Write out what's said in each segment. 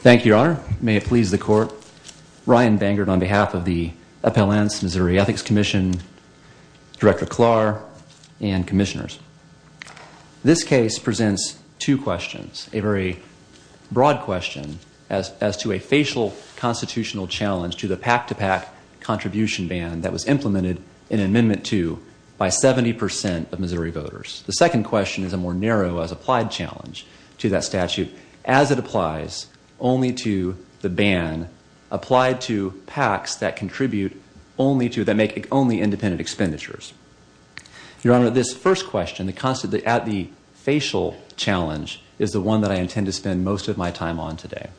Thank you, Your Honor. May it please the Court. Ryan Bangard on behalf of the Appellants, Missouri Ethics Commission, Director Klar, and Commissioners. This case presents two questions. A very broad question as to a facial constitutional challenge to the pack-to-pack contribution ban that was implemented in Amendment 2 by 70% of Missouri voters. The second question is a more narrow as applied challenge to that statute as it applies only to the ban applied to packs that contribute only to, that make only independent expenditures. Your Honor, this first question, at the facial challenge, is the one that I intend to spend most of my time on today.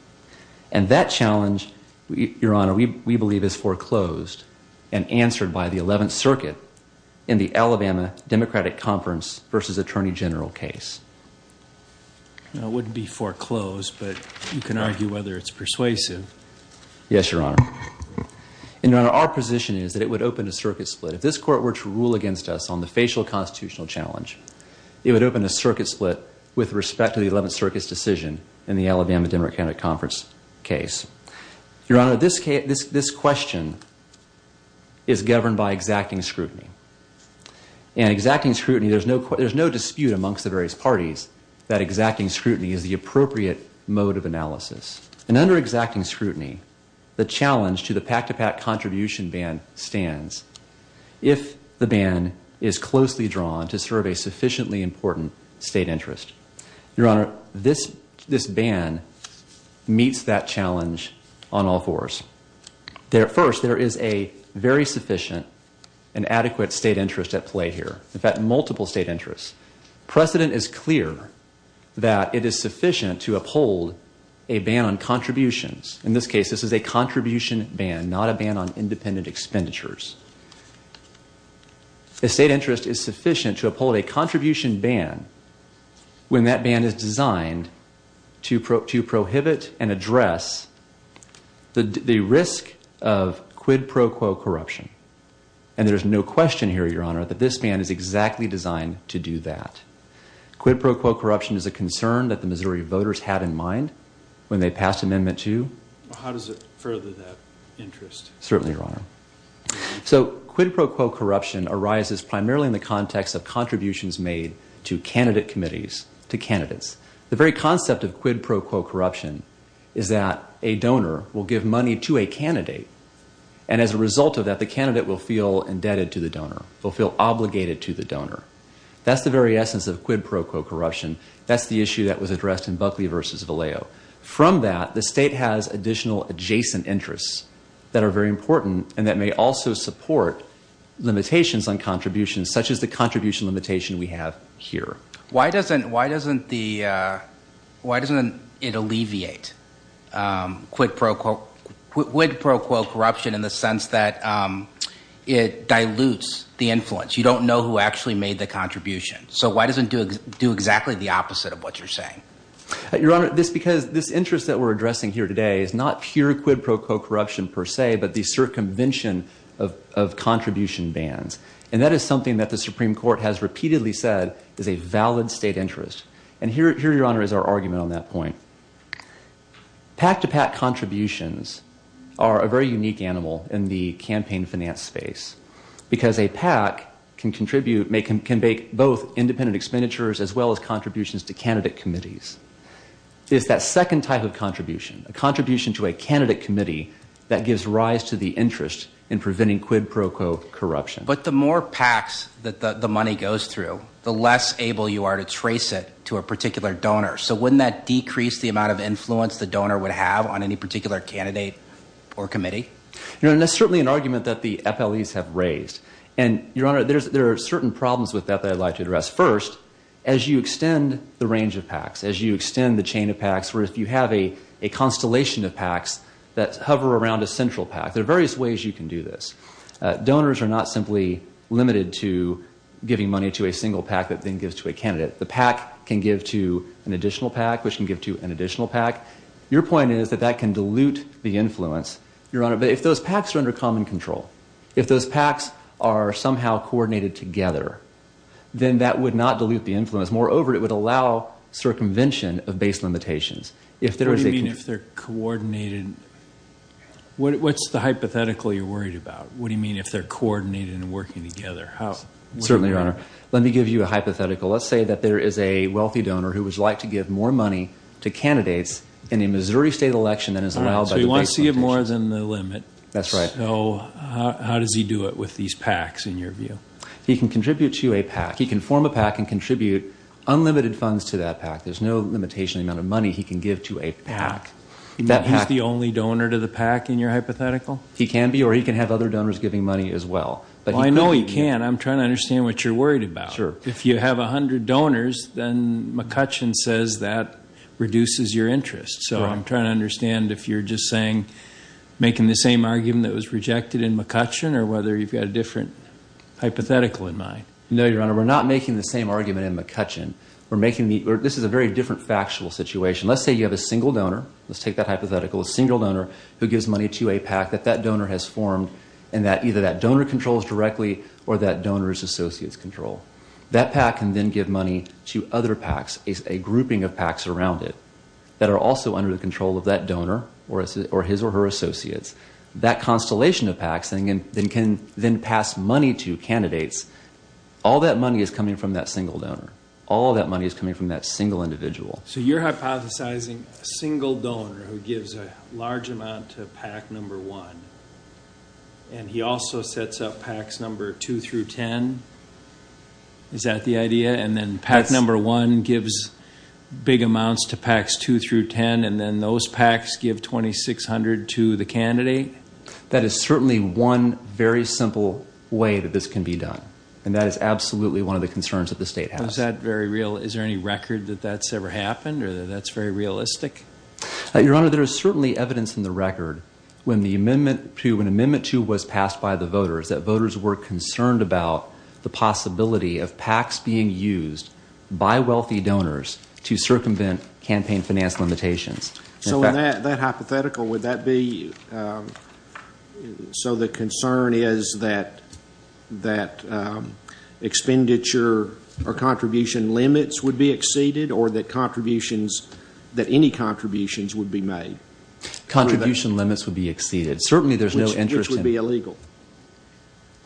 And that challenge, Your Honor, we believe is foreclosed and answered by the Eleventh Circuit in the Alabama Democratic Conference v. Attorney General case. It wouldn't be foreclosed, but you can argue whether it's persuasive. Yes, Your Honor. And, Your Honor, our position is that it would open a circuit split. If this Court were to rule against us on the facial constitutional challenge, it would open a circuit split with respect to the Eleventh Circuit's decision in the Alabama Democratic Conference case. Your Honor, this question is governed by exacting scrutiny. And exacting scrutiny, there's no dispute amongst the various parties that exacting scrutiny is the appropriate mode of analysis. And under exacting scrutiny, the challenge to the pack-to-pack contribution ban stands if the ban is closely drawn to serve a sufficiently important state interest. Your Honor, this ban meets that challenge on all fours. First, there is a very sufficient and adequate state interest at play here. In fact, multiple state interests. Precedent is clear that it is sufficient to uphold a ban on contributions. In this case, this is a contribution ban, not a ban on independent expenditures. A state interest is sufficient to uphold a contribution ban when that ban is designed to prohibit and address the risk of quid pro quo corruption. And there's no question here, Your Honor, that this ban is exactly designed to do that. Quid pro quo corruption is a concern that the Missouri voters had in mind when they passed Amendment 2. Certainly, Your Honor. So, quid pro quo corruption arises primarily in the context of contributions made to candidate committees, to candidates. The very concept of quid pro quo corruption is that a donor will give money to a candidate, and as a result of that, the candidate will feel indebted to the donor, will feel obligated to the donor. That's the very essence of quid pro quo corruption. That's the issue that was addressed in Buckley v. Vallejo. From that, the state has additional adjacent interests that are very important and that may also support limitations on contributions, such as the contribution limitation we have here. Why doesn't it alleviate quid pro quo corruption in the sense that it dilutes the influence? You don't know who actually made the contribution. So why does it do exactly the opposite of what you're saying? Your Honor, this is because this interest that we're addressing here today is not pure quid pro quo corruption per se, but the circumvention of contribution bans. And that is something that the Supreme Court has repeatedly said is a valid state interest. And here, Your Honor, is our argument on that point. Pack-to-pack contributions are a very unique animal in the campaign finance space because a pack can contribute, can make both independent expenditures as well as contributions to candidate committees. It's that second type of contribution, a contribution to a candidate committee that gives rise to the interest in preventing quid pro quo corruption. But the more packs that the money goes through, the less able you are to trace it to a particular donor. So wouldn't that decrease the amount of influence the donor would have on any particular candidate or committee? Your Honor, that's certainly an argument that the FLEs have raised. And, Your Honor, there are certain problems with that that I'd like to address. First, as you extend the range of packs, as you extend the chain of packs, or if you have a constellation of packs that hover around a central pack, there are various ways you can do this. Donors are not simply limited to giving money to a single pack that then gives to a candidate. The pack can give to an additional pack, which can give to an additional pack. Your point is that that can dilute the influence, Your Honor. But if those packs are under common control, if those packs are somehow coordinated together, then that would not dilute the influence. Moreover, it would allow circumvention of base limitations. What do you mean if they're coordinated? What's the hypothetical you're worried about? What do you mean if they're coordinated and working together? Certainly, Your Honor. Let me give you a hypothetical. Let's say that there is a wealthy donor who would like to give more money to candidates in a Missouri state election than is allowed by the base limitation. So he wants to give more than the limit. That's right. So how does he do it with these packs, in your view? He can contribute to a pack. He can form a pack and contribute unlimited funds to that pack. There's no limitation on the amount of money he can give to a pack. He's the only donor to the pack, in your hypothetical? He can be, or he can have other donors giving money as well. Well, I know he can. I'm trying to understand what you're worried about. If you have 100 donors, then McCutcheon says that reduces your interest. So I'm trying to understand if you're just saying making the same argument that was rejected in McCutcheon, or whether you've got a different hypothetical in mind. No, Your Honor. We're not making the same argument in McCutcheon. This is a very different factual situation. Let's say you have a single donor. Let's take that hypothetical. A single donor who gives money to a pack that that donor has formed, and either that donor controls directly, or that donor's associates control. That pack can then give money to other packs, a grouping of packs around it, that are also under the control of that donor, or his or her associates. That constellation of packs can then pass money to candidates. All that money is coming from that single donor. All that money is coming from that single individual. So you're hypothesizing a single donor who gives a pack number 1, and he also sets up packs number 2 through 10? Is that the idea? And then pack number 1 gives big amounts to packs 2 through 10, and then those packs give $2,600 to the candidate? That is certainly one very simple way that this can be done. And that is absolutely one of the concerns that the state has. Is that very real? Is there any record that that's ever happened, or that that's very realistic? Your Honor, there is certainly evidence in the record, when Amendment 2 was passed by the voters, that voters were concerned about the possibility of packs being used by wealthy donors to circumvent campaign finance limitations. So in that hypothetical, would that be so the concern is that expenditure or contribution limits would be exceeded, or that contributions, that any contribution limits would be exceeded. Certainly there's no interest in... Which would be illegal.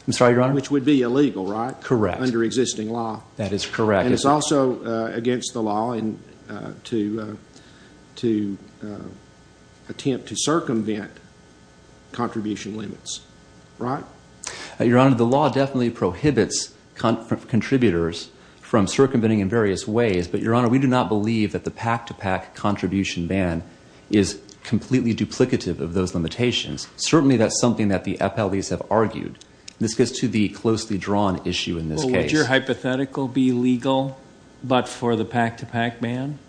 I'm sorry, Your Honor? Which would be illegal, right? Correct. Under existing law. That is correct. And it's also against the law to attempt to circumvent contribution limits, right? Your Honor, the law definitely prohibits contributors from circumventing in various ways, but Your Honor, we do not believe that the pack-to-pack contribution ban is completely duplicative of those limitations. Certainly that's something that the FLEs have argued. This gets to the closely drawn issue in this case. Well, would your hypothetical be legal, but for the pack-to-pack ban?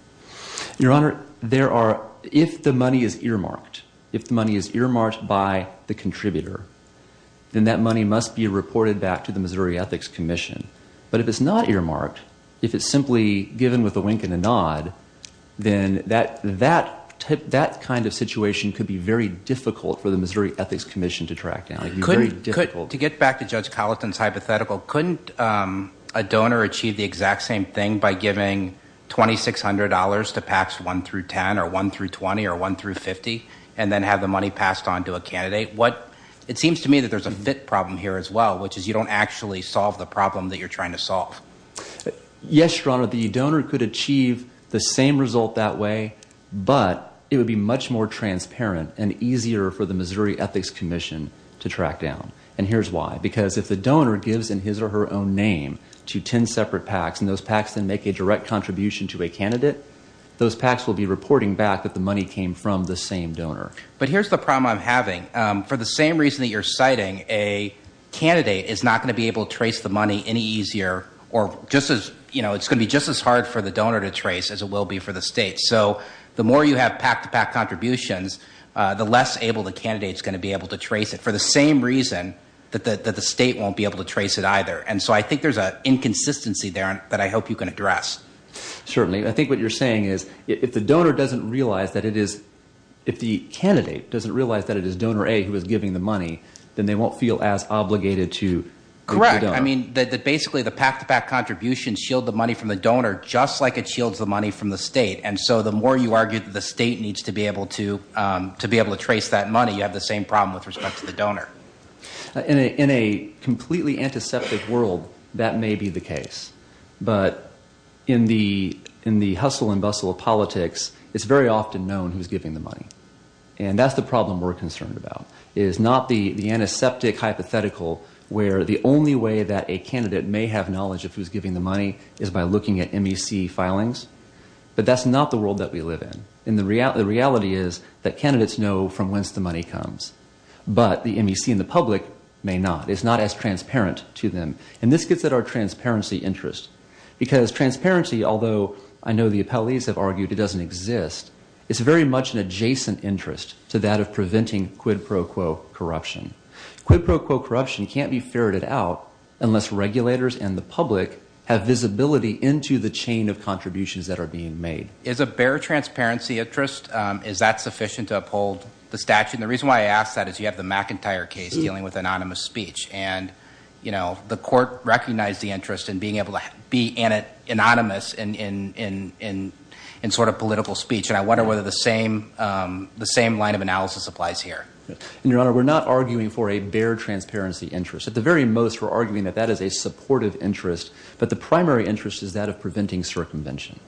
Your Honor, there are... If the money is earmarked, if the money is earmarked by the contributor, then that money must be reported back to the Missouri Ethics Commission. But if it's not earmarked, if it's simply given with a wink and a nod, then that kind of situation could be very difficult for the Missouri Ethics Commission to track down. To get back to Judge Colleton's hypothetical, couldn't a donor achieve the exact same thing by giving $2,600 to packs 1-10 or 1-20 or 1-50 and then have the money passed on to a candidate? It seems to me that there's a fit problem here as well, which is you don't actually solve the problem that you're trying to solve. Yes, Your Honor. The donor could achieve the same result that way, but it would be much more transparent and easier for the Missouri Ethics Commission to track down. And here's why. Because if the donor gives in his or her own name to 10 separate packs, and those packs then make a direct contribution to a candidate, those packs will be reporting back that the money came from the same donor. But here's the problem I'm having. For the same reason that you're citing a candidate is not going to be able to trace the money any easier or just as, you know, it's going to be just as hard for the donor to trace as it will be for the state. So the more you have pack-to-pack contributions, the less able the candidate is going to be able to trace it. For the same reason that the state won't be able to trace it either. And so I think there's an inconsistency there that I hope you can address. Certainly. I think what you're saying is if the donor doesn't realize that it is, if the candidate doesn't realize that it is donor A who is giving the money, then they won't feel as obligated to the donor. Correct. I mean, basically the pack-to-pack contributions shield the money from the donor just like it shields the money from the state. And so the more you argue that the state needs to be able to trace that money, you have the same problem with respect to the donor. In a completely antiseptic world, that may be the case. But in the hustle and bustle of politics, it's very often known who's giving the money. And that's the problem we're concerned about, is not the antiseptic hypothetical where the only way that a candidate may have knowledge of who's giving the money is by looking at MEC filings. But that's not the world that we live in. And the reality is that candidates know from whence the money comes. But the MEC and the public may not. It's not as transparent to them. And this gets at our transparency interest. Because transparency, although I know the appellees have argued it doesn't exist, is very much an adjacent interest to that of preventing quid pro quo corruption. Quid pro quo corruption can't be ferreted out unless regulators and the public have visibility into the chain of contributions that are being made. Is a bare transparency interest, is that sufficient to uphold the statute? And the reason why I ask that is you have the McIntyre case dealing with anonymous speech. And the court recognized the interest in being able to be anonymous We're not arguing for a bare transparency interest. At the very most we're arguing that that is a supportive interest. But the primary interest is that of preventing circumvention.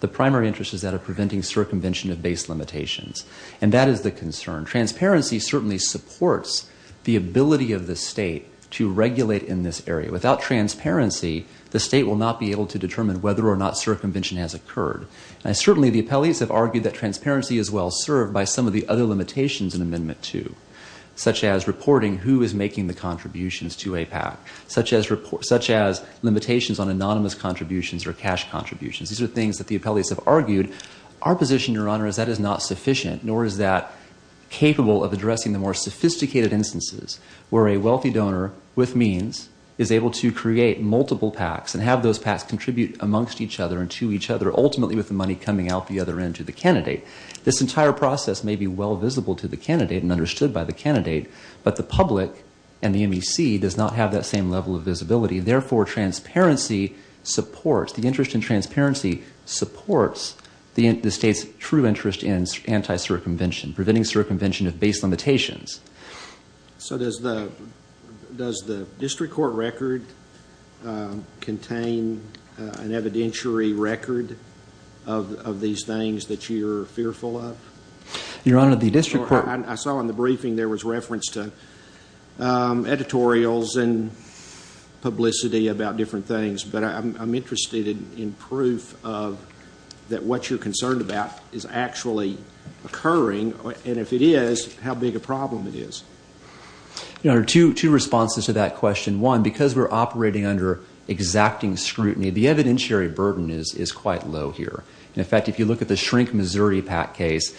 The primary interest is that of preventing circumvention of base limitations. And that is the concern. Transparency certainly supports the ability of the state to regulate in this area. Without transparency the state will not be able to determine whether or not circumvention has occurred. Certainly the appellees have argued that transparency is well served by some of the other limitations in Amendment 2. Such as reporting who is making the contributions to a PAC. Such as limitations on anonymous contributions or cash contributions. These are things that the appellees have argued. Our position, Your Honor, is that is not sufficient, nor is that capable of addressing the more sophisticated instances where a wealthy donor with means is able to create multiple PACs and have those PACs contribute amongst each other and to each other, ultimately with the money coming out the other end to the candidate. This entire process may be well visible to the candidate and understood by the candidate, but the public and the MEC does not have that same level of visibility. Therefore, transparency supports, the interest in transparency supports the state's true interest in anti-circumvention. Preventing circumvention of base limitations. So does the district court record contain an evidentiary record of these things that you're fearful of? Your Honor, the district court... I saw in the briefing there was reference to editorials and publicity about different things, but I'm interested in proof of that what you're concerned about is actually occurring. And if it is, how big a problem it is. Your Honor, two responses to that question. One, because we're operating under exacting scrutiny, the evidentiary burden is quite low here. In fact, if you look at the Shrink Missouri PAC case,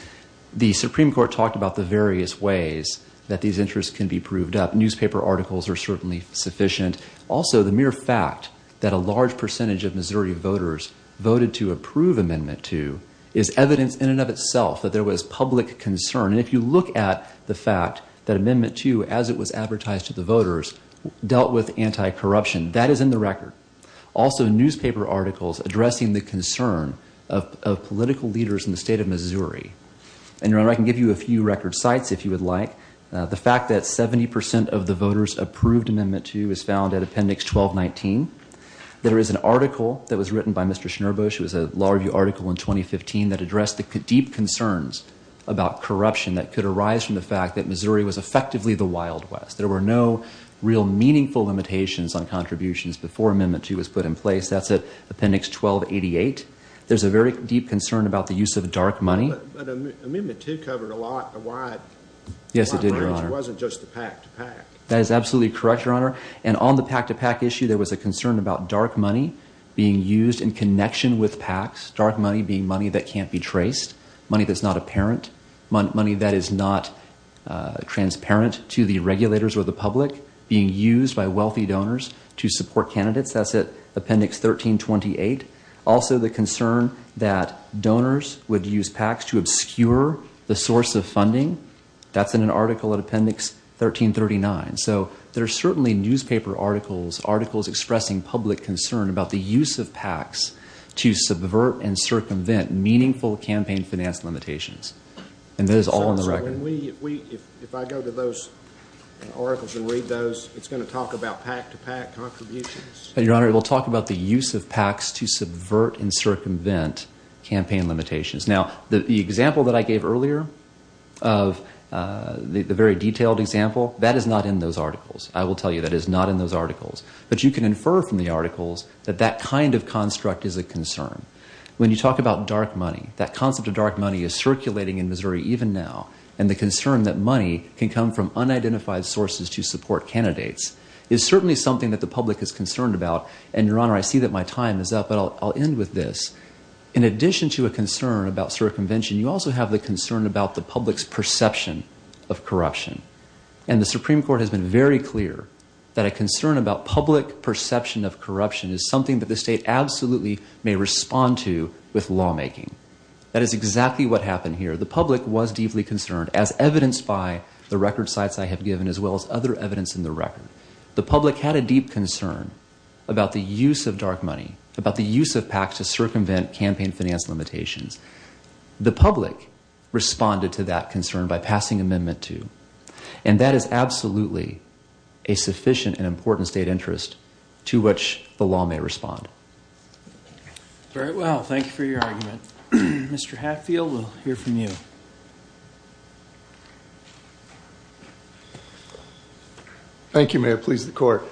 the Supreme Court talked about the various ways that these interests can be proved up. Newspaper articles are certainly sufficient. Also, the mere fact that a large percentage of Missouri voters voted to approve Amendment 2 is evidence in and of itself that there was public concern. And if you look at the fact that Amendment 2, as it was advertised to the voters, dealt with anti-corruption, that is in the record. Also, newspaper articles addressing the concern of political leaders in the state of Missouri. And, Your Honor, I can give you a few record sites, if you would like. The fact that 70 percent of the voters approved Amendment 2 was found at Appendix 1219. There is an article that was written by Mr. Schnurbush. It was a law review article in 2015 that addressed the deep concerns about corruption that could arise from the fact that Missouri was effectively the Wild West. There were no real meaningful limitations on contributions before Amendment 2 was put in place. That's at Appendix 1288. There's a very deep concern about the use of dark money. But Amendment 2 covered a wide range. It wasn't just the PAC-to-PAC. That is absolutely correct, Your Honor. And on the PAC-to-PAC issue, there was a concern about dark money being used in connection with PACs. Dark money being money that can't be traced. Money that's not apparent. Money that is not transparent to the regulators or the public being used by wealthy donors to support candidates. That's at Appendix 1328. Also, the concern that donors would use PACs to obscure the source of funding. That's in an article at Appendix 1339. So, there are certainly newspaper articles, articles expressing public concern about the use of PACs to subvert and circumvent meaningful campaign finance limitations. And that is all in the record. When we, if I go to those articles and read those, it's going to talk about PAC-to-PAC contributions? Your Honor, it will talk about the use of PACs to subvert and circumvent campaign limitations. Now, the example that I gave earlier, the very detailed example, that is not in those articles. I will tell you that is not in those articles. But you can infer from the articles that that kind of construct is a concern. When you talk about dark money, that concept of dark money is and the concern that money can come from unidentified sources to support candidates is certainly something that the public is concerned about. And, Your Honor, I see that my time is up, but I'll end with this. In addition to a concern about circumvention, you also have the concern about the public's perception of corruption. And the Supreme Court has been very clear that a concern about public perception of corruption is something that the state absolutely may respond to with lawmaking. That is exactly what happened here. The public was deeply concerned, as evidenced by the record sites I have given, as well as other evidence in the record. The public had a deep concern about the use of dark money, about the use of PACs to circumvent campaign finance limitations. The public responded to that concern by passing amendment 2. And that is absolutely a sufficient and important state interest to which the law may respond. Very well. Thank you for your argument. Mr. Hatfield, we'll hear from you. Thank you, may it please the Court.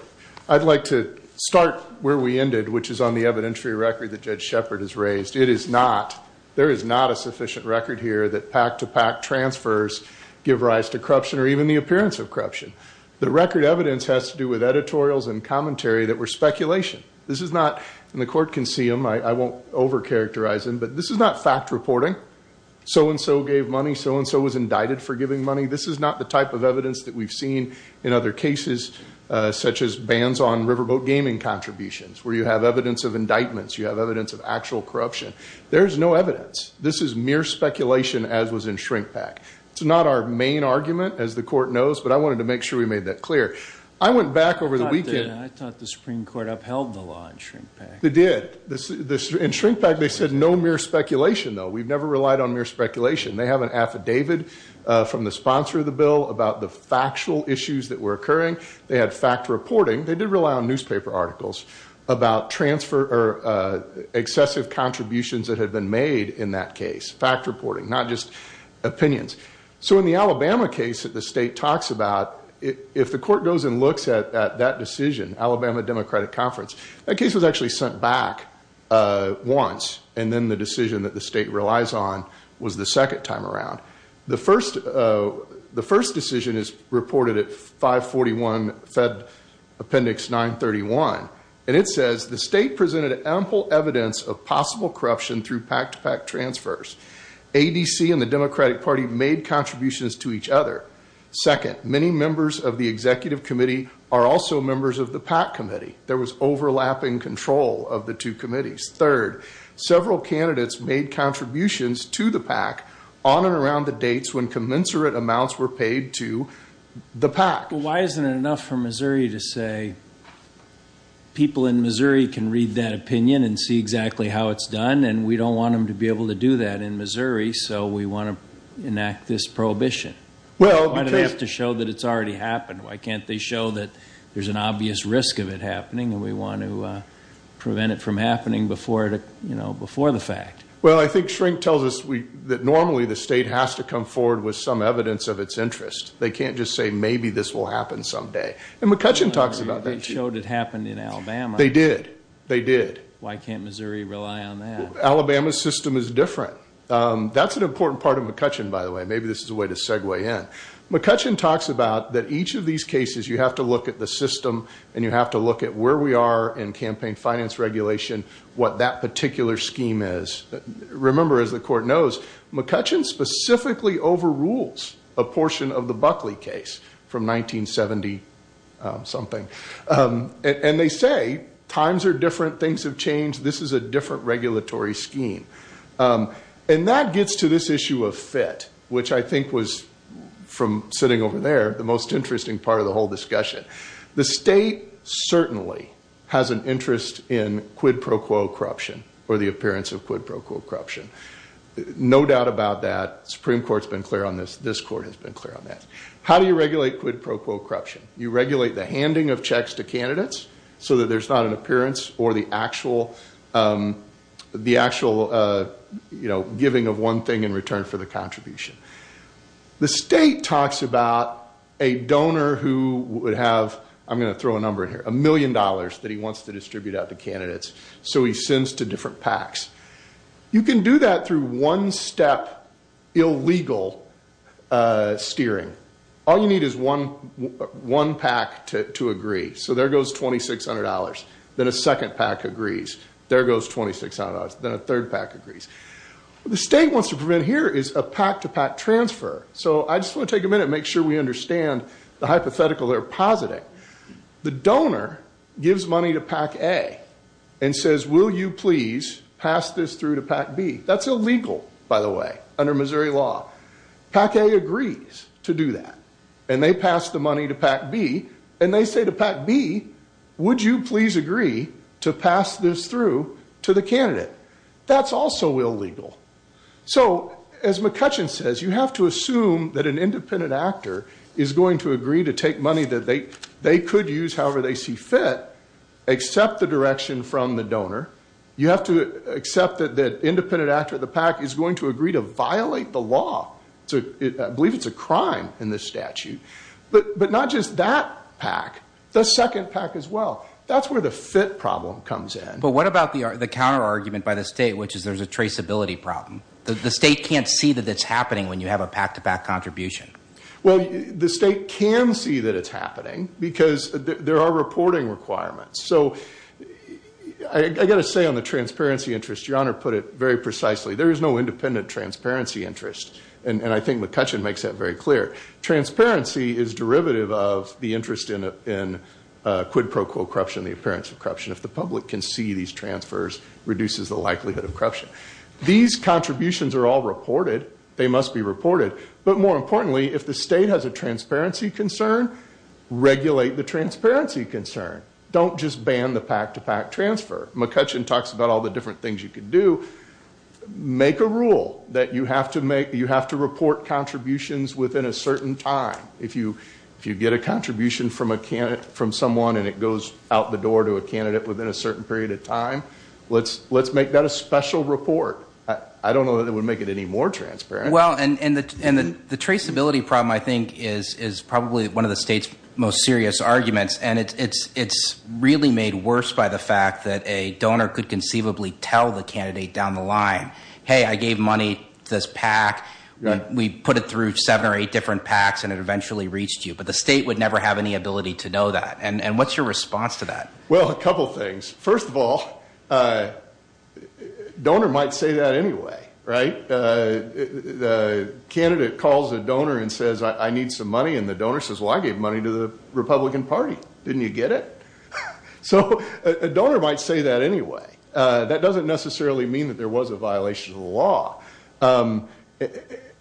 I'd like to start where we ended, which is on the evidentiary record that Judge Shepard has raised. It is not, there is not a sufficient record here that PAC-to-PAC transfers give rise to corruption or even the appearance of corruption. The record evidence has to do with editorials and commentary that were speculation. This is not, and the Court can see them, I won't overcharacterize them, but this is not fact reporting. So-and-so gave money, so-and-so was indicted for giving money. This is not the type of evidence that we've seen in other cases, such as bans on riverboat gaming contributions, where you have evidence of indictments, you have evidence of actual corruption. There is no evidence. This is mere speculation, as was in shrink PAC. It's not our main argument, as the Court knows, but I wanted to make sure we made that clear. I went back over the weekend. I thought the Supreme Court upheld the law in shrink PAC. They did. In shrink PAC, they said no mere speculation, though. We've never relied on mere speculation. They have an affidavit from the sponsor of the bill about the factual issues that were occurring. They had fact reporting. They did rely on newspaper articles about transfer or excessive contributions that had been made in that case. Fact reporting, not just opinions. So in the Alabama case that the state talks about, if the Court goes and looks at that decision, Alabama Democratic Conference, that case was actually sent back once, and then the decision that the state relies on was the second time around. The first decision is reported at 541 Fed Appendix 931, and it says, the state presented ample evidence of possible corruption through PAC-to-PAC transfers. ADC and the Democratic Party made contributions to each other. Second, many members of the Executive Committee are also members of the PAC Committee. There was overlapping control of the two committees. Third, several candidates made contributions to the PAC on and around the dates when commensurate amounts were paid to the PAC. Why isn't it enough for Missouri to say, people in Missouri can read that opinion and see exactly how it's done, and we don't want them to be able to do that in Missouri, so we want to enact this prohibition? Why do they have to show that it's already happened? Why can't they show that there's an obvious risk of it happening, and we want to prevent it from happening before the fact? Well, I think shrink tells us that normally the state has to come forward with some evidence of its interest. They can't just say, maybe this will happen someday. And McCutcheon talks about that too. They showed it happened in Alabama. They did. They did. Why can't Missouri rely on that? Alabama's system is different. That's an important part of McCutcheon, by the way. Maybe this is a way to segue in. McCutcheon talks about that each of these cases, you have to look at the system, and you have to look at where we are in campaign finance regulation, what that particular scheme is. Remember, as the court knows, McCutcheon specifically overrules a portion of the Buckley case from 1970-something. And they say, times are different, things have changed, this is a different regulatory scheme. And that gets to this issue of fit, which I think was, from sitting over there, the most interesting part of the whole discussion. The state certainly has an interest in quid pro quo corruption, or the appearance of quid pro quo corruption. No doubt about that. The Supreme Court's been clear on this. This court has been clear on that. How do you regulate quid pro quo corruption? You regulate the handing of checks to candidates so that there's not an appearance or the actual giving of one thing in return for the contribution. The state talks about a donor who would have, I'm going to throw a number in here, a million dollars that he wants to distribute out to candidates, so he sends to different packs. You can do that through one-step illegal steering. All you need is one pack to agree. So there goes $2,600. Then a second pack agrees. There goes $2,600. Then a third pack agrees. What the state wants to prevent here is a pack-to-pack transfer. So I just want to take a minute and make sure we understand the hypothetical they're positing. The donor gives money to Pack A and says, will you please pass this through to Pack B? That's illegal, by the way, under Missouri law. Pack A agrees to do that. And they pass the money to Pack B. And they say to Pack B, would you please agree to pass this through to the candidate? That's also illegal. So as McCutcheon says, you have to assume that an independent actor is going to agree to take money that they could use however they see fit, accept the direction from the donor. You have to accept that the independent actor of the pack is going to agree to violate the law. I believe it's a crime in this statute. But not just that pack. The second pack as well. That's where the fit problem comes in. But what about the counter-argument by the state, which is there's a traceability problem? The state can't see that it's happening when you have a pack-to-pack contribution. Well, the state can see that it's happening because there are reporting requirements. So I've got to say on the transparency interest, Your Honor put it very precisely. There is no independent transparency interest. And I think McCutcheon makes that very clear. Transparency is derivative of the interest in quid pro quo corruption and the appearance of corruption. If the public can see these transfers, it reduces the likelihood of corruption. These contributions are all reported. They must be reported. But more importantly, if the state has a transparency concern, regulate the transparency concern. Don't just ban the pack-to-pack transfer. McCutcheon talks about all the different things you can do. Make a rule that you have to report contributions within a certain time. If you get a contribution from someone and it goes out the door to a candidate within a certain period of time, let's make that a special report. I don't know that it would make it any more transparent. Well, and the traceability problem, I think, is probably one of the state's most serious arguments. And it's really made worse by the fact that a donor could conceivably tell the candidate down the line, hey, I gave money to this pack. We put it through seven or eight different packs and it eventually reached you. But the state would never have any ability to know that. And what's your response to that? Well, a couple things. First of all, a donor might say that anyway, right? A candidate calls a donor and says, I need some money. And the donor says, well, I gave money to the Republican Party. Didn't you get it? So a donor might say that anyway. That doesn't necessarily mean that there was a violation of the law.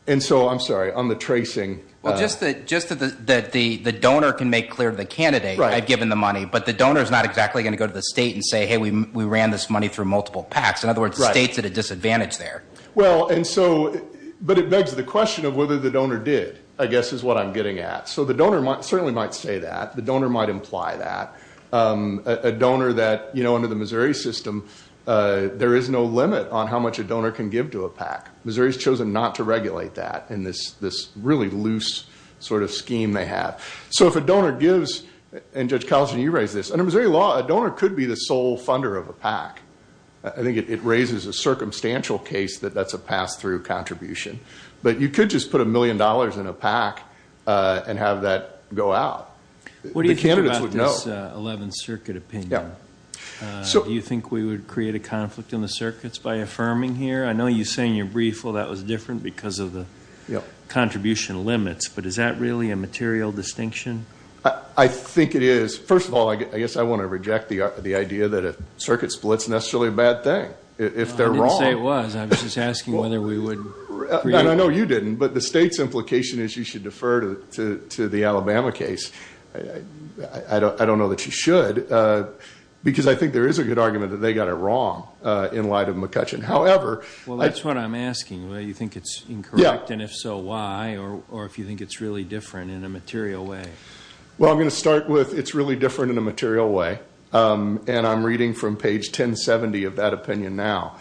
And so, I'm sorry, on the tracing. Well, just that the donor can make clear to the candidate I've given the money. But the donor's not exactly going to go to the state and say, hey, we ran this money through multiple packs. In other words, the state's at a disadvantage there. But it begs the question of whether the donor did, I guess, is what I'm getting at. So the donor certainly might say that. The donor might imply that. A donor that, under the Missouri system, there is no limit on how much a donor can give to a pack. Missouri's chosen not to regulate that in this really loose sort of scheme they have. So if a donor gives, and Judge Calhoun, you raised this, under Missouri law, a donor could be the sole funder of a pack. I think it raises a circumstantial case that that's a pass-through contribution. But you could just put a million dollars in a pack and have that go out. The candidates would know. What do you think about this 11th Circuit opinion? Do you think we would create a conflict in the circuits by affirming here? I know you say in your brief, well, that was different because of the contribution limits. But is that really a material distinction? I think it is. First of all, I guess I want to reject the idea that a circuit split's necessarily a bad thing. If they're wrong. I didn't say it was. I was just asking whether we would create... No, you didn't. But the state's implication is you should defer to the Alabama case. I don't know that you should. Because I think there is a good argument that they got it wrong in light of McCutcheon. Well, that's what I'm asking. You think it's incorrect, and if so, why? Or if you think it's really different in a material way. Well, I'm going to start with it's really different in a material way. And I'm reading from page 1070 of that opinion now.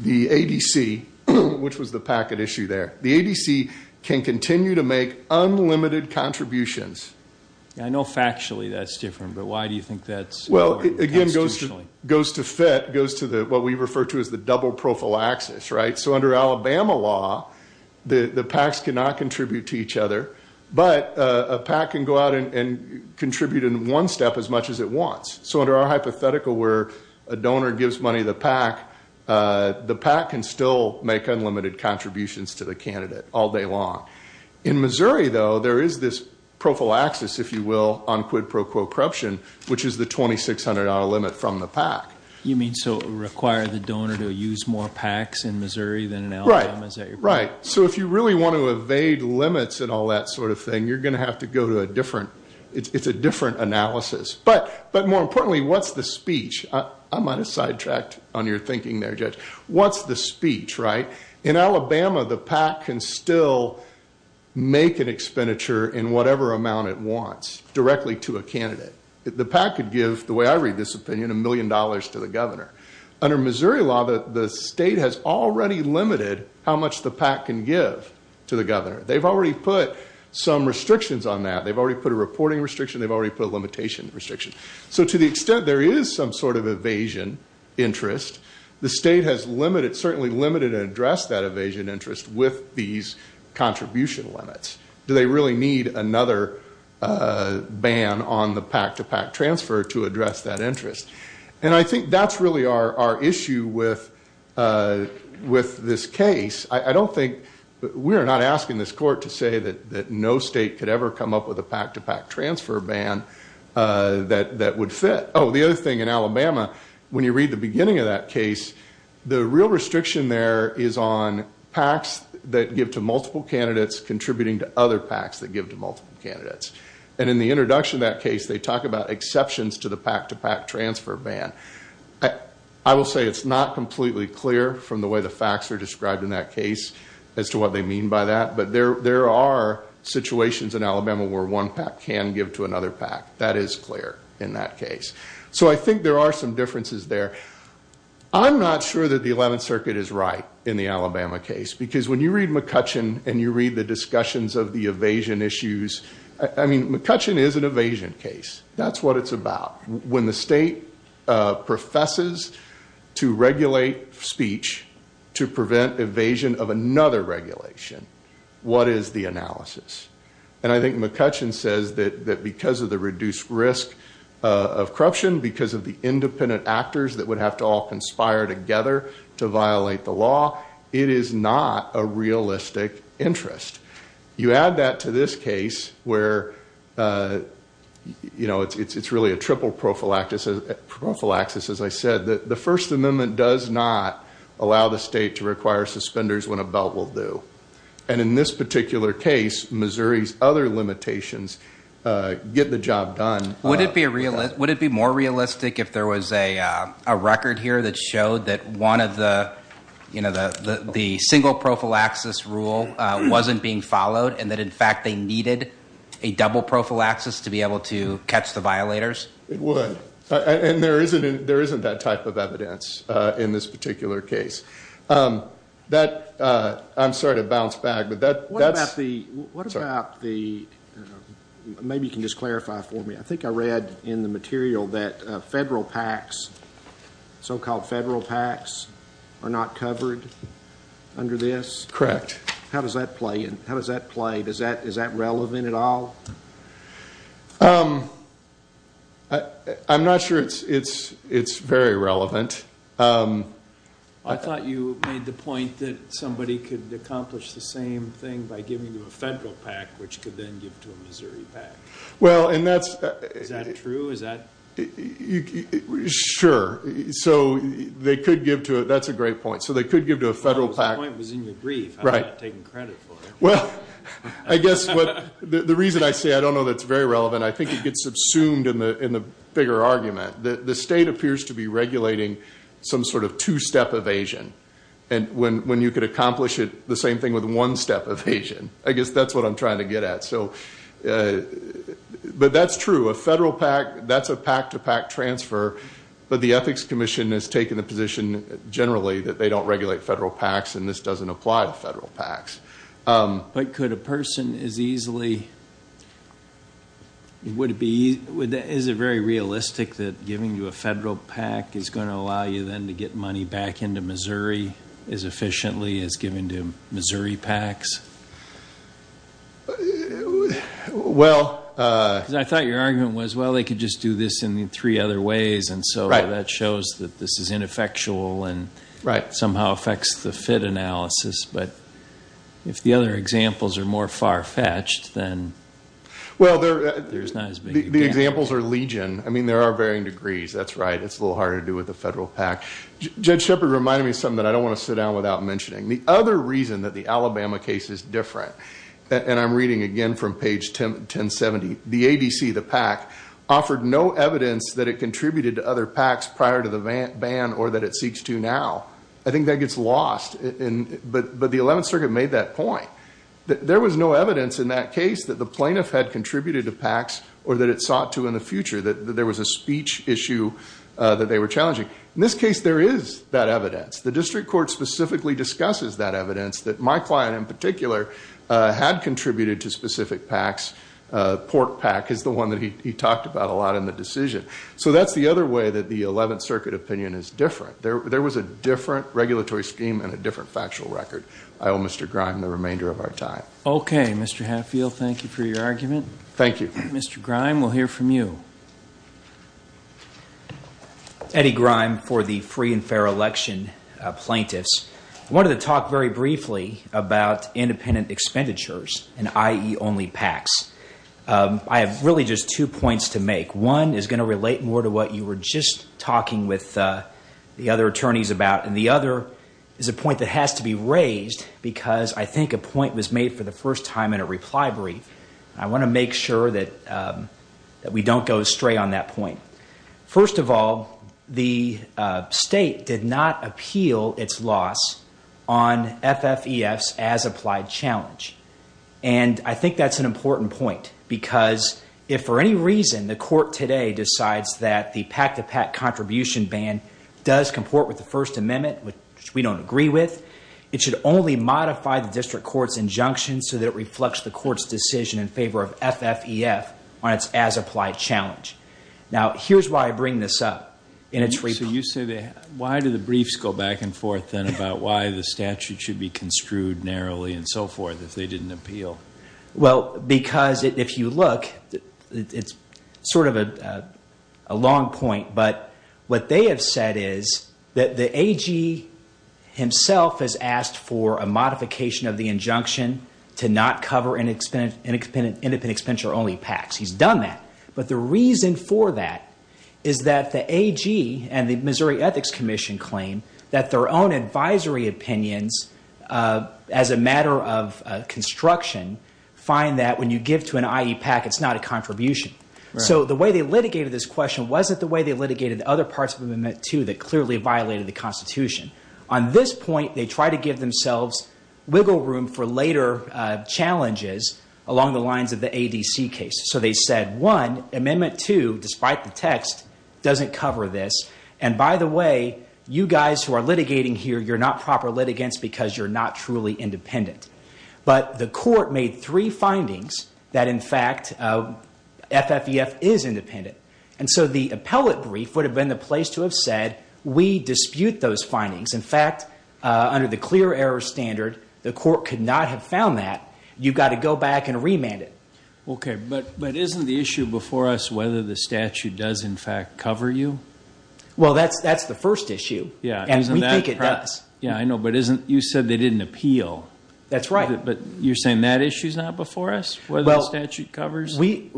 The ADC, which was the packet issue there, the ADC can continue to make unlimited contributions. I know factually that's different, but why do you think that's... Well, again, it goes to fit, goes to what we refer to as the double prophylaxis, right? So under Alabama law, the PACs cannot contribute to each other, but a PAC can go out and contribute in one step as much as it wants. So under our hypothetical where a donor gives money to the PAC, the PAC can still make unlimited contributions to the candidate all day long. In Missouri, though, there is this prophylaxis, if you will, on quid pro quo corruption, which is the $2,600 limit from the PAC. You mean so it would require the donor to use more PACs in Missouri than in Alabama? Right. So if you really want to evade limits and all that sort of thing, you're going to have to go to a different... it's a different analysis. But more importantly, what's the speech? I might have sidetracked on your thinking there, Judge. What's the speech, right? In Alabama, the PAC can still make an expenditure in whatever amount it wants directly to a candidate. The PAC could give, the way I read this opinion, a million dollars to the governor. Under Missouri law, the state has already limited how much the PAC can give to the governor. They've already put some restrictions on that. They've already put a reporting restriction. They've already put a limitation restriction. So to the extent there is some sort of evasion interest, the state has certainly limited and addressed that evasion interest with these contribution limits. Do they really need another ban on the PAC-to-PAC transfer to address that interest? And I think that's really our issue with this case. I don't think... we are not asking this court to say that no state could ever come up with a PAC-to-PAC transfer ban that would fit. Oh, the other thing in Alabama, when you read the beginning of that case, the real restriction there is on PACs that give to multiple candidates contributing to other PACs that give to multiple candidates. And in the introduction of that case, they talk about exceptions to the PAC-to-PAC transfer ban. I will say it's not completely clear from the way the facts are described in that case as to what they mean by that, but there are situations in Alabama where one PAC can give to another PAC. That is clear in that case. So I think there are some differences there. I'm not sure that the 11th Circuit is right in the Alabama case, because when you read McCutcheon and you read the discussions of the evasion issues... I mean, McCutcheon is an evasion case. That's what it's about. When the state professes to regulate speech to prevent evasion of another regulation, what is the analysis? And I think McCutcheon says that because of the reduced risk of corruption, because of the independent actors that would have to all conspire together to violate the law, it is not a realistic interest. You add that to this case, where it's really a triple prophylaxis, as I said. The First Amendment does not allow the state to require suspenders when a belt will do. And in this particular case, Missouri's other limitations get the job done. Would it be more realistic if there was a record here that showed that one of the single prophylaxis rule wasn't being followed, and that in fact they needed a double prophylaxis to be able to catch the violators? It would. And there isn't that type of evidence in this particular case. I'm sorry to bounce back, but that's... What about the... Maybe you can just clarify for me. I think I read in the material that federal PACs, so-called federal PACs, are not covered under this? Correct. How does that play? Is that relevant at all? I'm not sure it's very relevant. I thought you made the point that somebody could accomplish the same thing by giving to a federal PAC, which could then give to a Missouri PAC. Well, and that's... Is that true? Sure. So they could give to a... That's a great point. So they could give to a federal PAC... That point was in your brief. I'm not taking credit for it. Well, I guess what... The reason I say I don't know that's very relevant, I think it gets subsumed in the bigger argument. The state appears to be regulating some sort of two-step evasion. When you could accomplish the same thing with one-step evasion. I guess that's what I'm trying to get at. But that's true. A federal PAC, that's a PAC-to-PAC transfer, but the Ethics Commission has taken the position, generally, that they don't regulate federal PACs and this doesn't apply to federal PACs. But could a person as easily... Would it be... Is it very realistic that giving to a federal PAC is going to allow you then to get money back into Missouri as efficiently as giving to Missouri PACs? Well... Because I thought your argument was, well, they could just do this in three other ways, and so that shows that this is ineffectual and somehow affects the fit analysis. But if the other examples are more far-fetched, then there's not as big a... Well, the examples are legion. I mean, there are varying degrees. That's right. It's a little harder to do with a federal PAC. Judge Shepard reminded me of something that I don't want to sit down without mentioning. The other reason that the Alabama case is different, and I'm reading again from page 1070, the ADC, the PAC, offered no evidence that it contributed to other PACs prior to the ban or that it seeks to now. I think that gets lost. But the Eleventh Circuit made that point. There was no evidence in that case that the plaintiff had contributed to PACs or that it sought to in the future. That there was a speech issue that they were challenging. In this case, there is that evidence. The District Court specifically discusses that evidence that my client in particular had contributed to specific PACs. Port PAC is the one that he talked about a lot in the decision. So that's the other way that the Eleventh Circuit opinion is different. There was a different regulatory scheme and a different factual record. I owe Mr. Grime the remainder of our time. Okay. Mr. Hatfield, thank you for your argument. Thank you. Mr. Grime, we'll hear from you. Eddie Grime for the Free and Fair Election Plaintiffs. I wanted to talk very briefly about independent expenditures and IE only PACs. I have really just two points to make. One is going to relate more to what you were just talking with the other attorneys about. And the other is a point that has to be raised because I think a point was made for the first time in a reply brief. I want to make sure that we don't go astray on that point. First of all, the state did not appeal its loss on FFEF's as-applied challenge. And I think that's an important point because if for any reason the court today decides that the PAC-to-PAC contribution ban does comport with the First Amendment which we don't agree with, it should only modify the District Court's injunction so that it reflects the court's decision in favor of FFEF on its as-applied challenge. Now, here's why I bring this up in its reply. So you say, why do the briefs go back and forth then about why the statute should be construed narrowly and so forth if they didn't appeal? Well, because if you look, it's sort of a long point, but what they have said is that the AG himself has asked for a modification of the injunction to not cover independent expenditure-only PACs. He's done that. But the reason for that is that the AG and the Missouri Ethics Commission claim that their own advisory opinions as a matter of construction find that when you give to an IE PAC it's not a contribution. So the way they litigated this question wasn't the way they litigated the other parts of Amendment 2 that clearly violated the Constitution. On this point, they tried to give themselves wiggle room for later challenges along the lines of the ADC case. So they said, one, Amendment 2, despite the text, doesn't cover this, and by the way, you guys who are litigating here, you're not proper litigants because you're not truly independent. But the court made three findings that, in fact, FFEF is independent. And so the appellate brief would have been the place to have said we dispute those findings. In fact, under the clear error standard, the court could not have found that. You've got to go back and remand it. Okay, but isn't the issue before us whether the statute does, in fact, cover you? Well, that's the first issue. And we think it does. Yeah, I know, but you said they didn't appeal. That's right. But you're saying that issue's not before us, whether the statute covers? We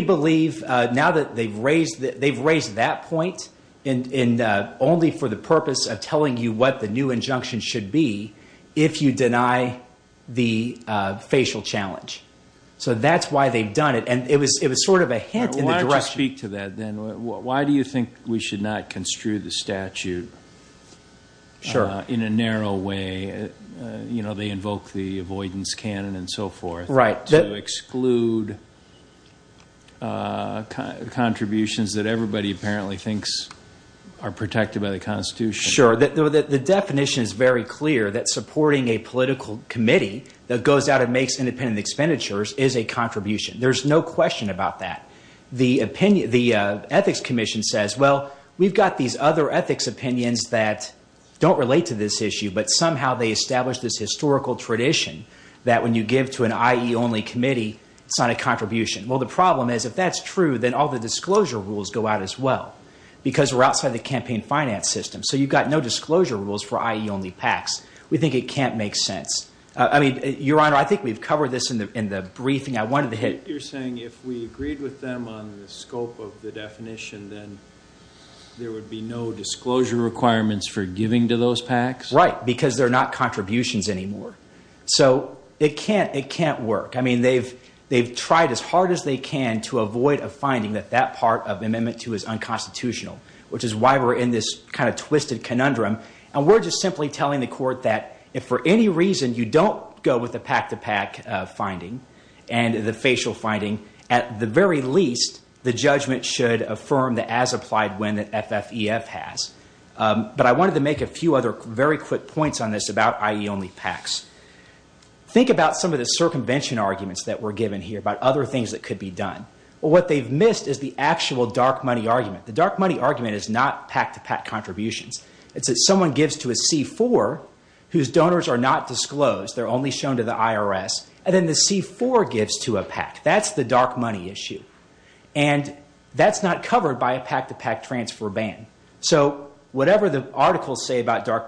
believe, now that they've raised that point only for the purpose of telling you what the new injunction should be if you deny the facial challenge. So that's why they've done it. And it was sort of a hint in the direction. Why don't you speak to that, then? Why do you think we should not construe the statute in a narrow way? You know, they invoke the avoidance canon and so forth to exclude contributions that everybody apparently thinks are protected by the Constitution. Sure. The definition is very clear that supporting a political committee that goes out and makes independent expenditures is a contribution. There's no question about that. The Ethics Commission says, well, we've got these other ethics opinions that don't relate to this issue, but somehow they establish this historical tradition that when you give to an IE-only committee, it's not a contribution. Well, the problem is, if that's true, then all the disclosure rules go out as well, because we're outside the campaign finance system. So you've got no disclosure rules for IE-only PACs. We think it can't make sense. I mean, Your Honor, I think we've covered this in the briefing I wanted to hit. You're saying if we agreed with them on the scope of the definition, then there would be no disclosure requirements for giving to those PACs? Right. Because they're not contributions anymore. So it can't work. I mean, they've tried as hard as they can to avoid a finding that that part of Amendment 2 is unconstitutional, which is why we're in this kind of twisted conundrum. And we're just simply telling the Court that if for any reason you don't go with the PAC-to-PAC finding and the facial finding, at the very least the judgment should affirm the as-applied when that FFEF has. But I wanted to make a few other very quick points on this about IE-only PACs. Think about some of the circumvention arguments that were given here about other things that could be done. What they've missed is the actual dark money argument. The dark money argument is not PAC-to-PAC contributions. It's that someone gives to a C-4 whose donors are not disclosed. They're only shown to the IRS. And then the C-4 gives to a PAC. That's the dark money issue. And that's not covered by a PAC-to-PAC transfer ban. So whatever the articles say about the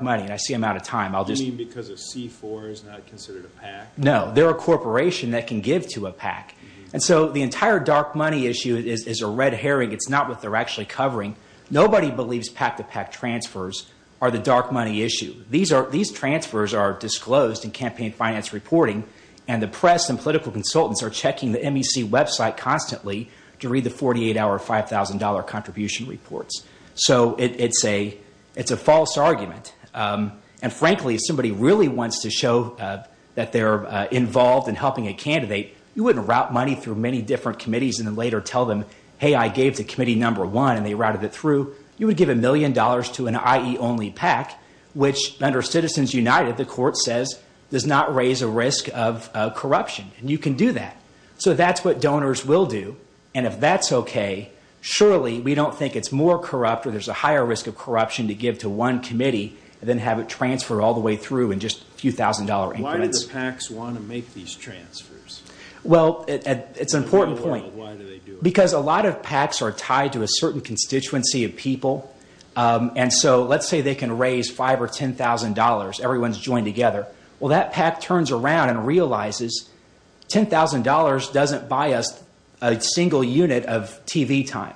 amount of time, I'll just... You mean because a C-4 is not considered a PAC? No. They're a corporation that can give to a PAC. And so the entire dark money issue is a red herring. It's not what they're actually covering. Nobody believes PAC-to-PAC transfers are the dark money issue. These transfers are disclosed in campaign finance reporting, and the press and political consultants are checking the MEC website constantly to read the 48-hour $5,000 contribution reports. So it's a false argument. And frankly, if somebody really wants to show that they're involved in helping a candidate, you wouldn't route money through many different committees and then later tell them, hey, I gave to committee number one and they routed it through. You would give a million dollars to an IE-only PAC, which under Citizens United, the court says, does not raise a risk of corruption. And you can do that. So that's what donors will do. And if that's okay, surely we don't think it's more corrupt where there's a higher risk of corruption to give to one committee and then have it transferred all the way through in just a few thousand dollar increments. Well, it's an important point. Because a lot of PACs are tied to a certain constituency of people. And so let's say they can raise $5,000 or $10,000. Everyone's joined together. Well, that PAC turns around and realizes $10,000 doesn't buy us a single unit of TV time.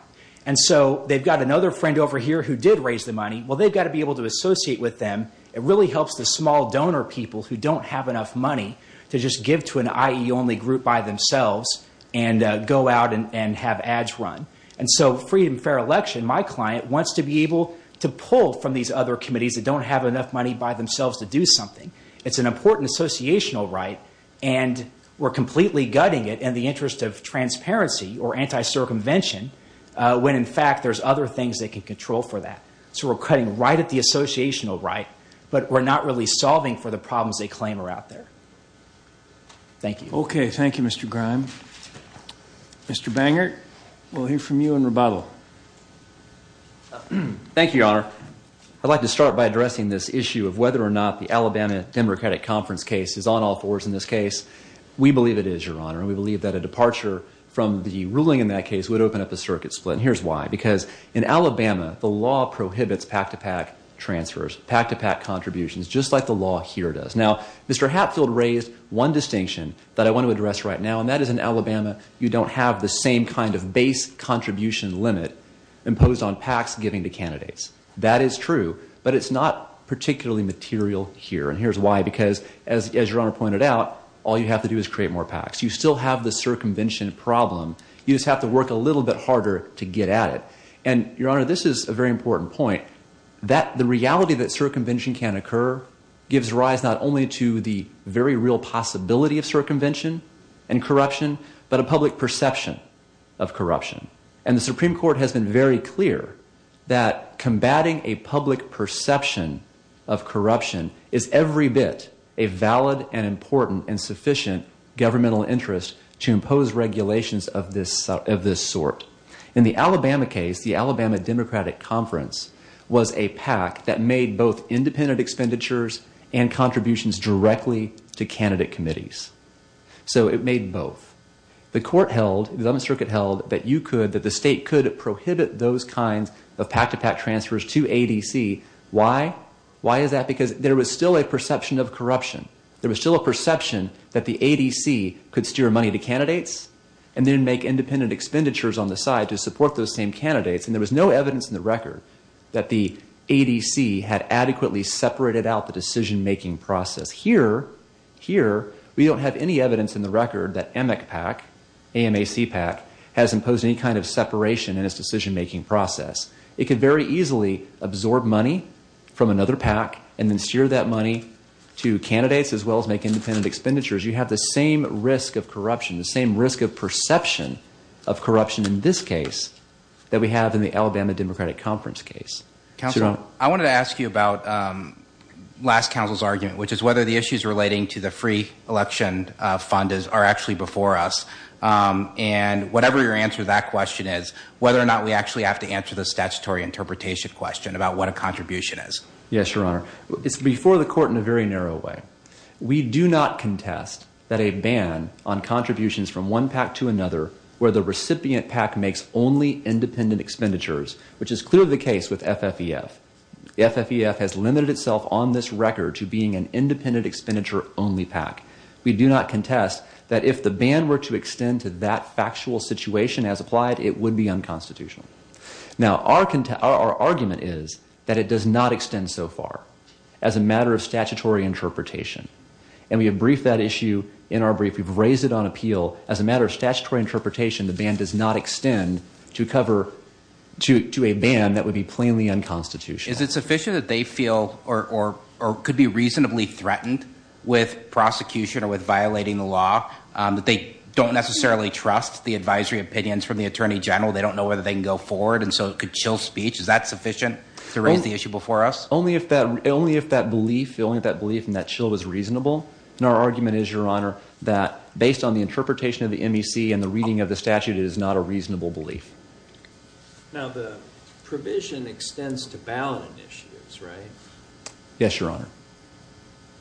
And so they've got another friend over here who did raise the money. Well, they've got to be able to associate with them. It really helps the small donor people who don't have enough money to just give to an IE-only group by themselves and go out and have ads run. And so Freedom Fair Election, my client, wants to be able to pull from these other committees that don't have enough money by themselves to do something. It's an important associational right and we're completely gutting it in the interest of transparency or anti-circumvention when in fact there's other things they can control for that. So we're cutting right at the associational right, but we're not really solving for the problems they claim are out there. Thank you. Okay. Thank you, Mr. Grime. Mr. Bangert, we'll hear from you in rebuttal. Thank you, Your Honor. I'd like to start by addressing this issue of whether or not the Alabama Democratic Conference case is on all fours in this case. We believe it is, Your Honor. And we believe that a departure from the ruling in that case would open up a circuit split. And here's why. Because in Alabama, the law prohibits pack-to-pack transfers, pack-to-pack contributions, just like the law here does. Now, Mr. Hatfield raised one distinction that I want to address right now, and that is in Alabama you don't have the same kind of base contribution limit imposed on packs given to candidates. That is true, but it's not particularly material here. And here's why. Because as Your Honor pointed out, all you have to do is create more packs. You still have the circumvention problem. You just have to work a little bit harder to get at it. And, Your Honor, this is a very important point. The reality that circumvention can occur gives rise not only to the very real possibility of circumvention and corruption, but a public perception of corruption. And the Supreme Court has been very clear that combating a public perception of corruption is every bit a valid and important and sufficient governmental interest to impose regulations of this sort. In the Alabama case, the Alabama Democratic Conference was a pack that made both independent expenditures and contributions directly to candidate committees. So it made both. The court held, the 11th Circuit held, that you could, that the state could prohibit those kinds of pack-to-pack transfers to ADC. Why? Why is that? Because there was still a perception of corruption. There was still a perception that the ADC could steer money to candidates and then make independent expenditures on the side to support those same candidates. And there was no evidence in the record that the ADC had adequately separated out the decision-making process. Here, here, we don't have any evidence in the record that AMAC pack has imposed any kind of separation in its decision-making process. It could very easily absorb money from another pack and then steer that money to candidates as well as make independent expenditures. You have the same risk of corruption, the same risk of perception of corruption in this case that we have in the Alabama Democratic Conference case. Counselor, I wanted to ask you about last council's argument, which is whether the issues relating to the free election fund are actually before us. And whatever your answer to that question is, whether or not we actually have to answer the statutory interpretation question about what a contribution is. Yes, Your Honor. It's before the court in a very narrow way. We do not contest that a ban on contributions from one pack to another where the recipient pack makes only independent expenditures, which is clearly the case with FFEF. FFEF has limited itself on this record to being an independent expenditure only pack. We do not contest that if the ban were to extend to that factual situation as applied, it would be unconstitutional. Now, our argument is that it does not extend so far as a matter of statutory interpretation. And we have briefed that issue in our brief. We've raised it on appeal. As a matter of statutory interpretation, the ban does not extend to a ban that would be plainly unconstitutional. Is it sufficient that they feel or could be reasonably threatened with prosecution or with violating the law that they don't necessarily trust the advisory opinions from the Attorney General? They don't know whether they can go forward and so it could chill speech? Is that sufficient to raise the issue before us? Only if that belief and that chill was reasonable. And our argument is, Your Honor, that based on the interpretation of the MEC and the reading of the statute, it is not a reasonable belief. Now, the provision extends to ballot initiatives, right? Yes, Your Honor.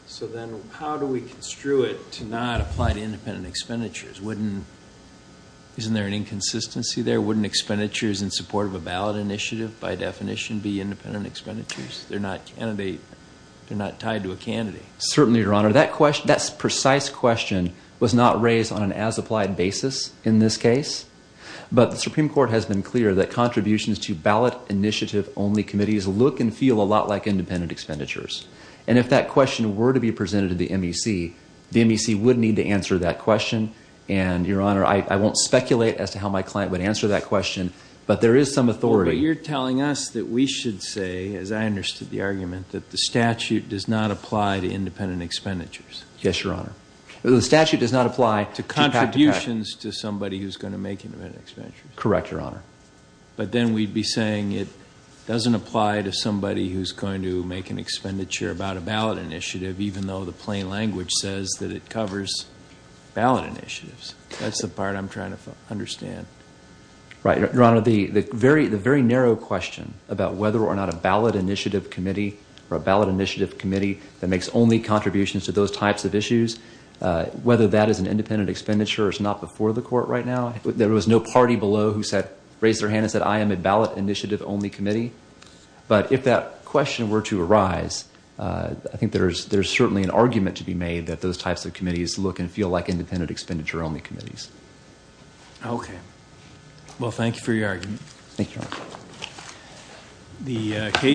So then how do we construe it to not apply to independent expenditures? Isn't there an inconsistency there? Wouldn't expenditures in support of a ballot initiative by definition be independent expenditures? They're not tied to a candidate. Certainly, Your Honor. That precise question was not raised on an as-applied basis in this case. But the Supreme Court has been clear that contributions to ballot initiative-only committees look and feel a lot like independent expenditures. And if that question were to be presented to the MEC, the MEC would need to answer that question. And, Your Honor, I won't speculate as to how my client would answer that question, but there is some authority. But you're telling us that we should say, as I understood the argument, that the statute does not apply to independent expenditures? Yes, Your Honor. The statute does not apply to contributions to somebody who's going to make independent expenditures? Correct, Your Honor. But then we'd be saying it doesn't apply to somebody who's going to make an expenditure about a ballot initiative, even though the plain language says that it covers ballot initiatives. That's the part I'm trying to understand. Right. Your Honor, the very narrow question about whether or not a ballot initiative committee or a ballot initiative committee that makes only contributions to those types of issues, whether that is an independent expenditure or is not before the Court right now, there was no party below who raised their hand and said, I am a ballot initiative-only committee. But if that is the case, I think there's certainly an argument to be made that those types of committees look and feel like independent expenditure-only committees. Okay. Well, thank you for your argument. Thank you, Your Honor.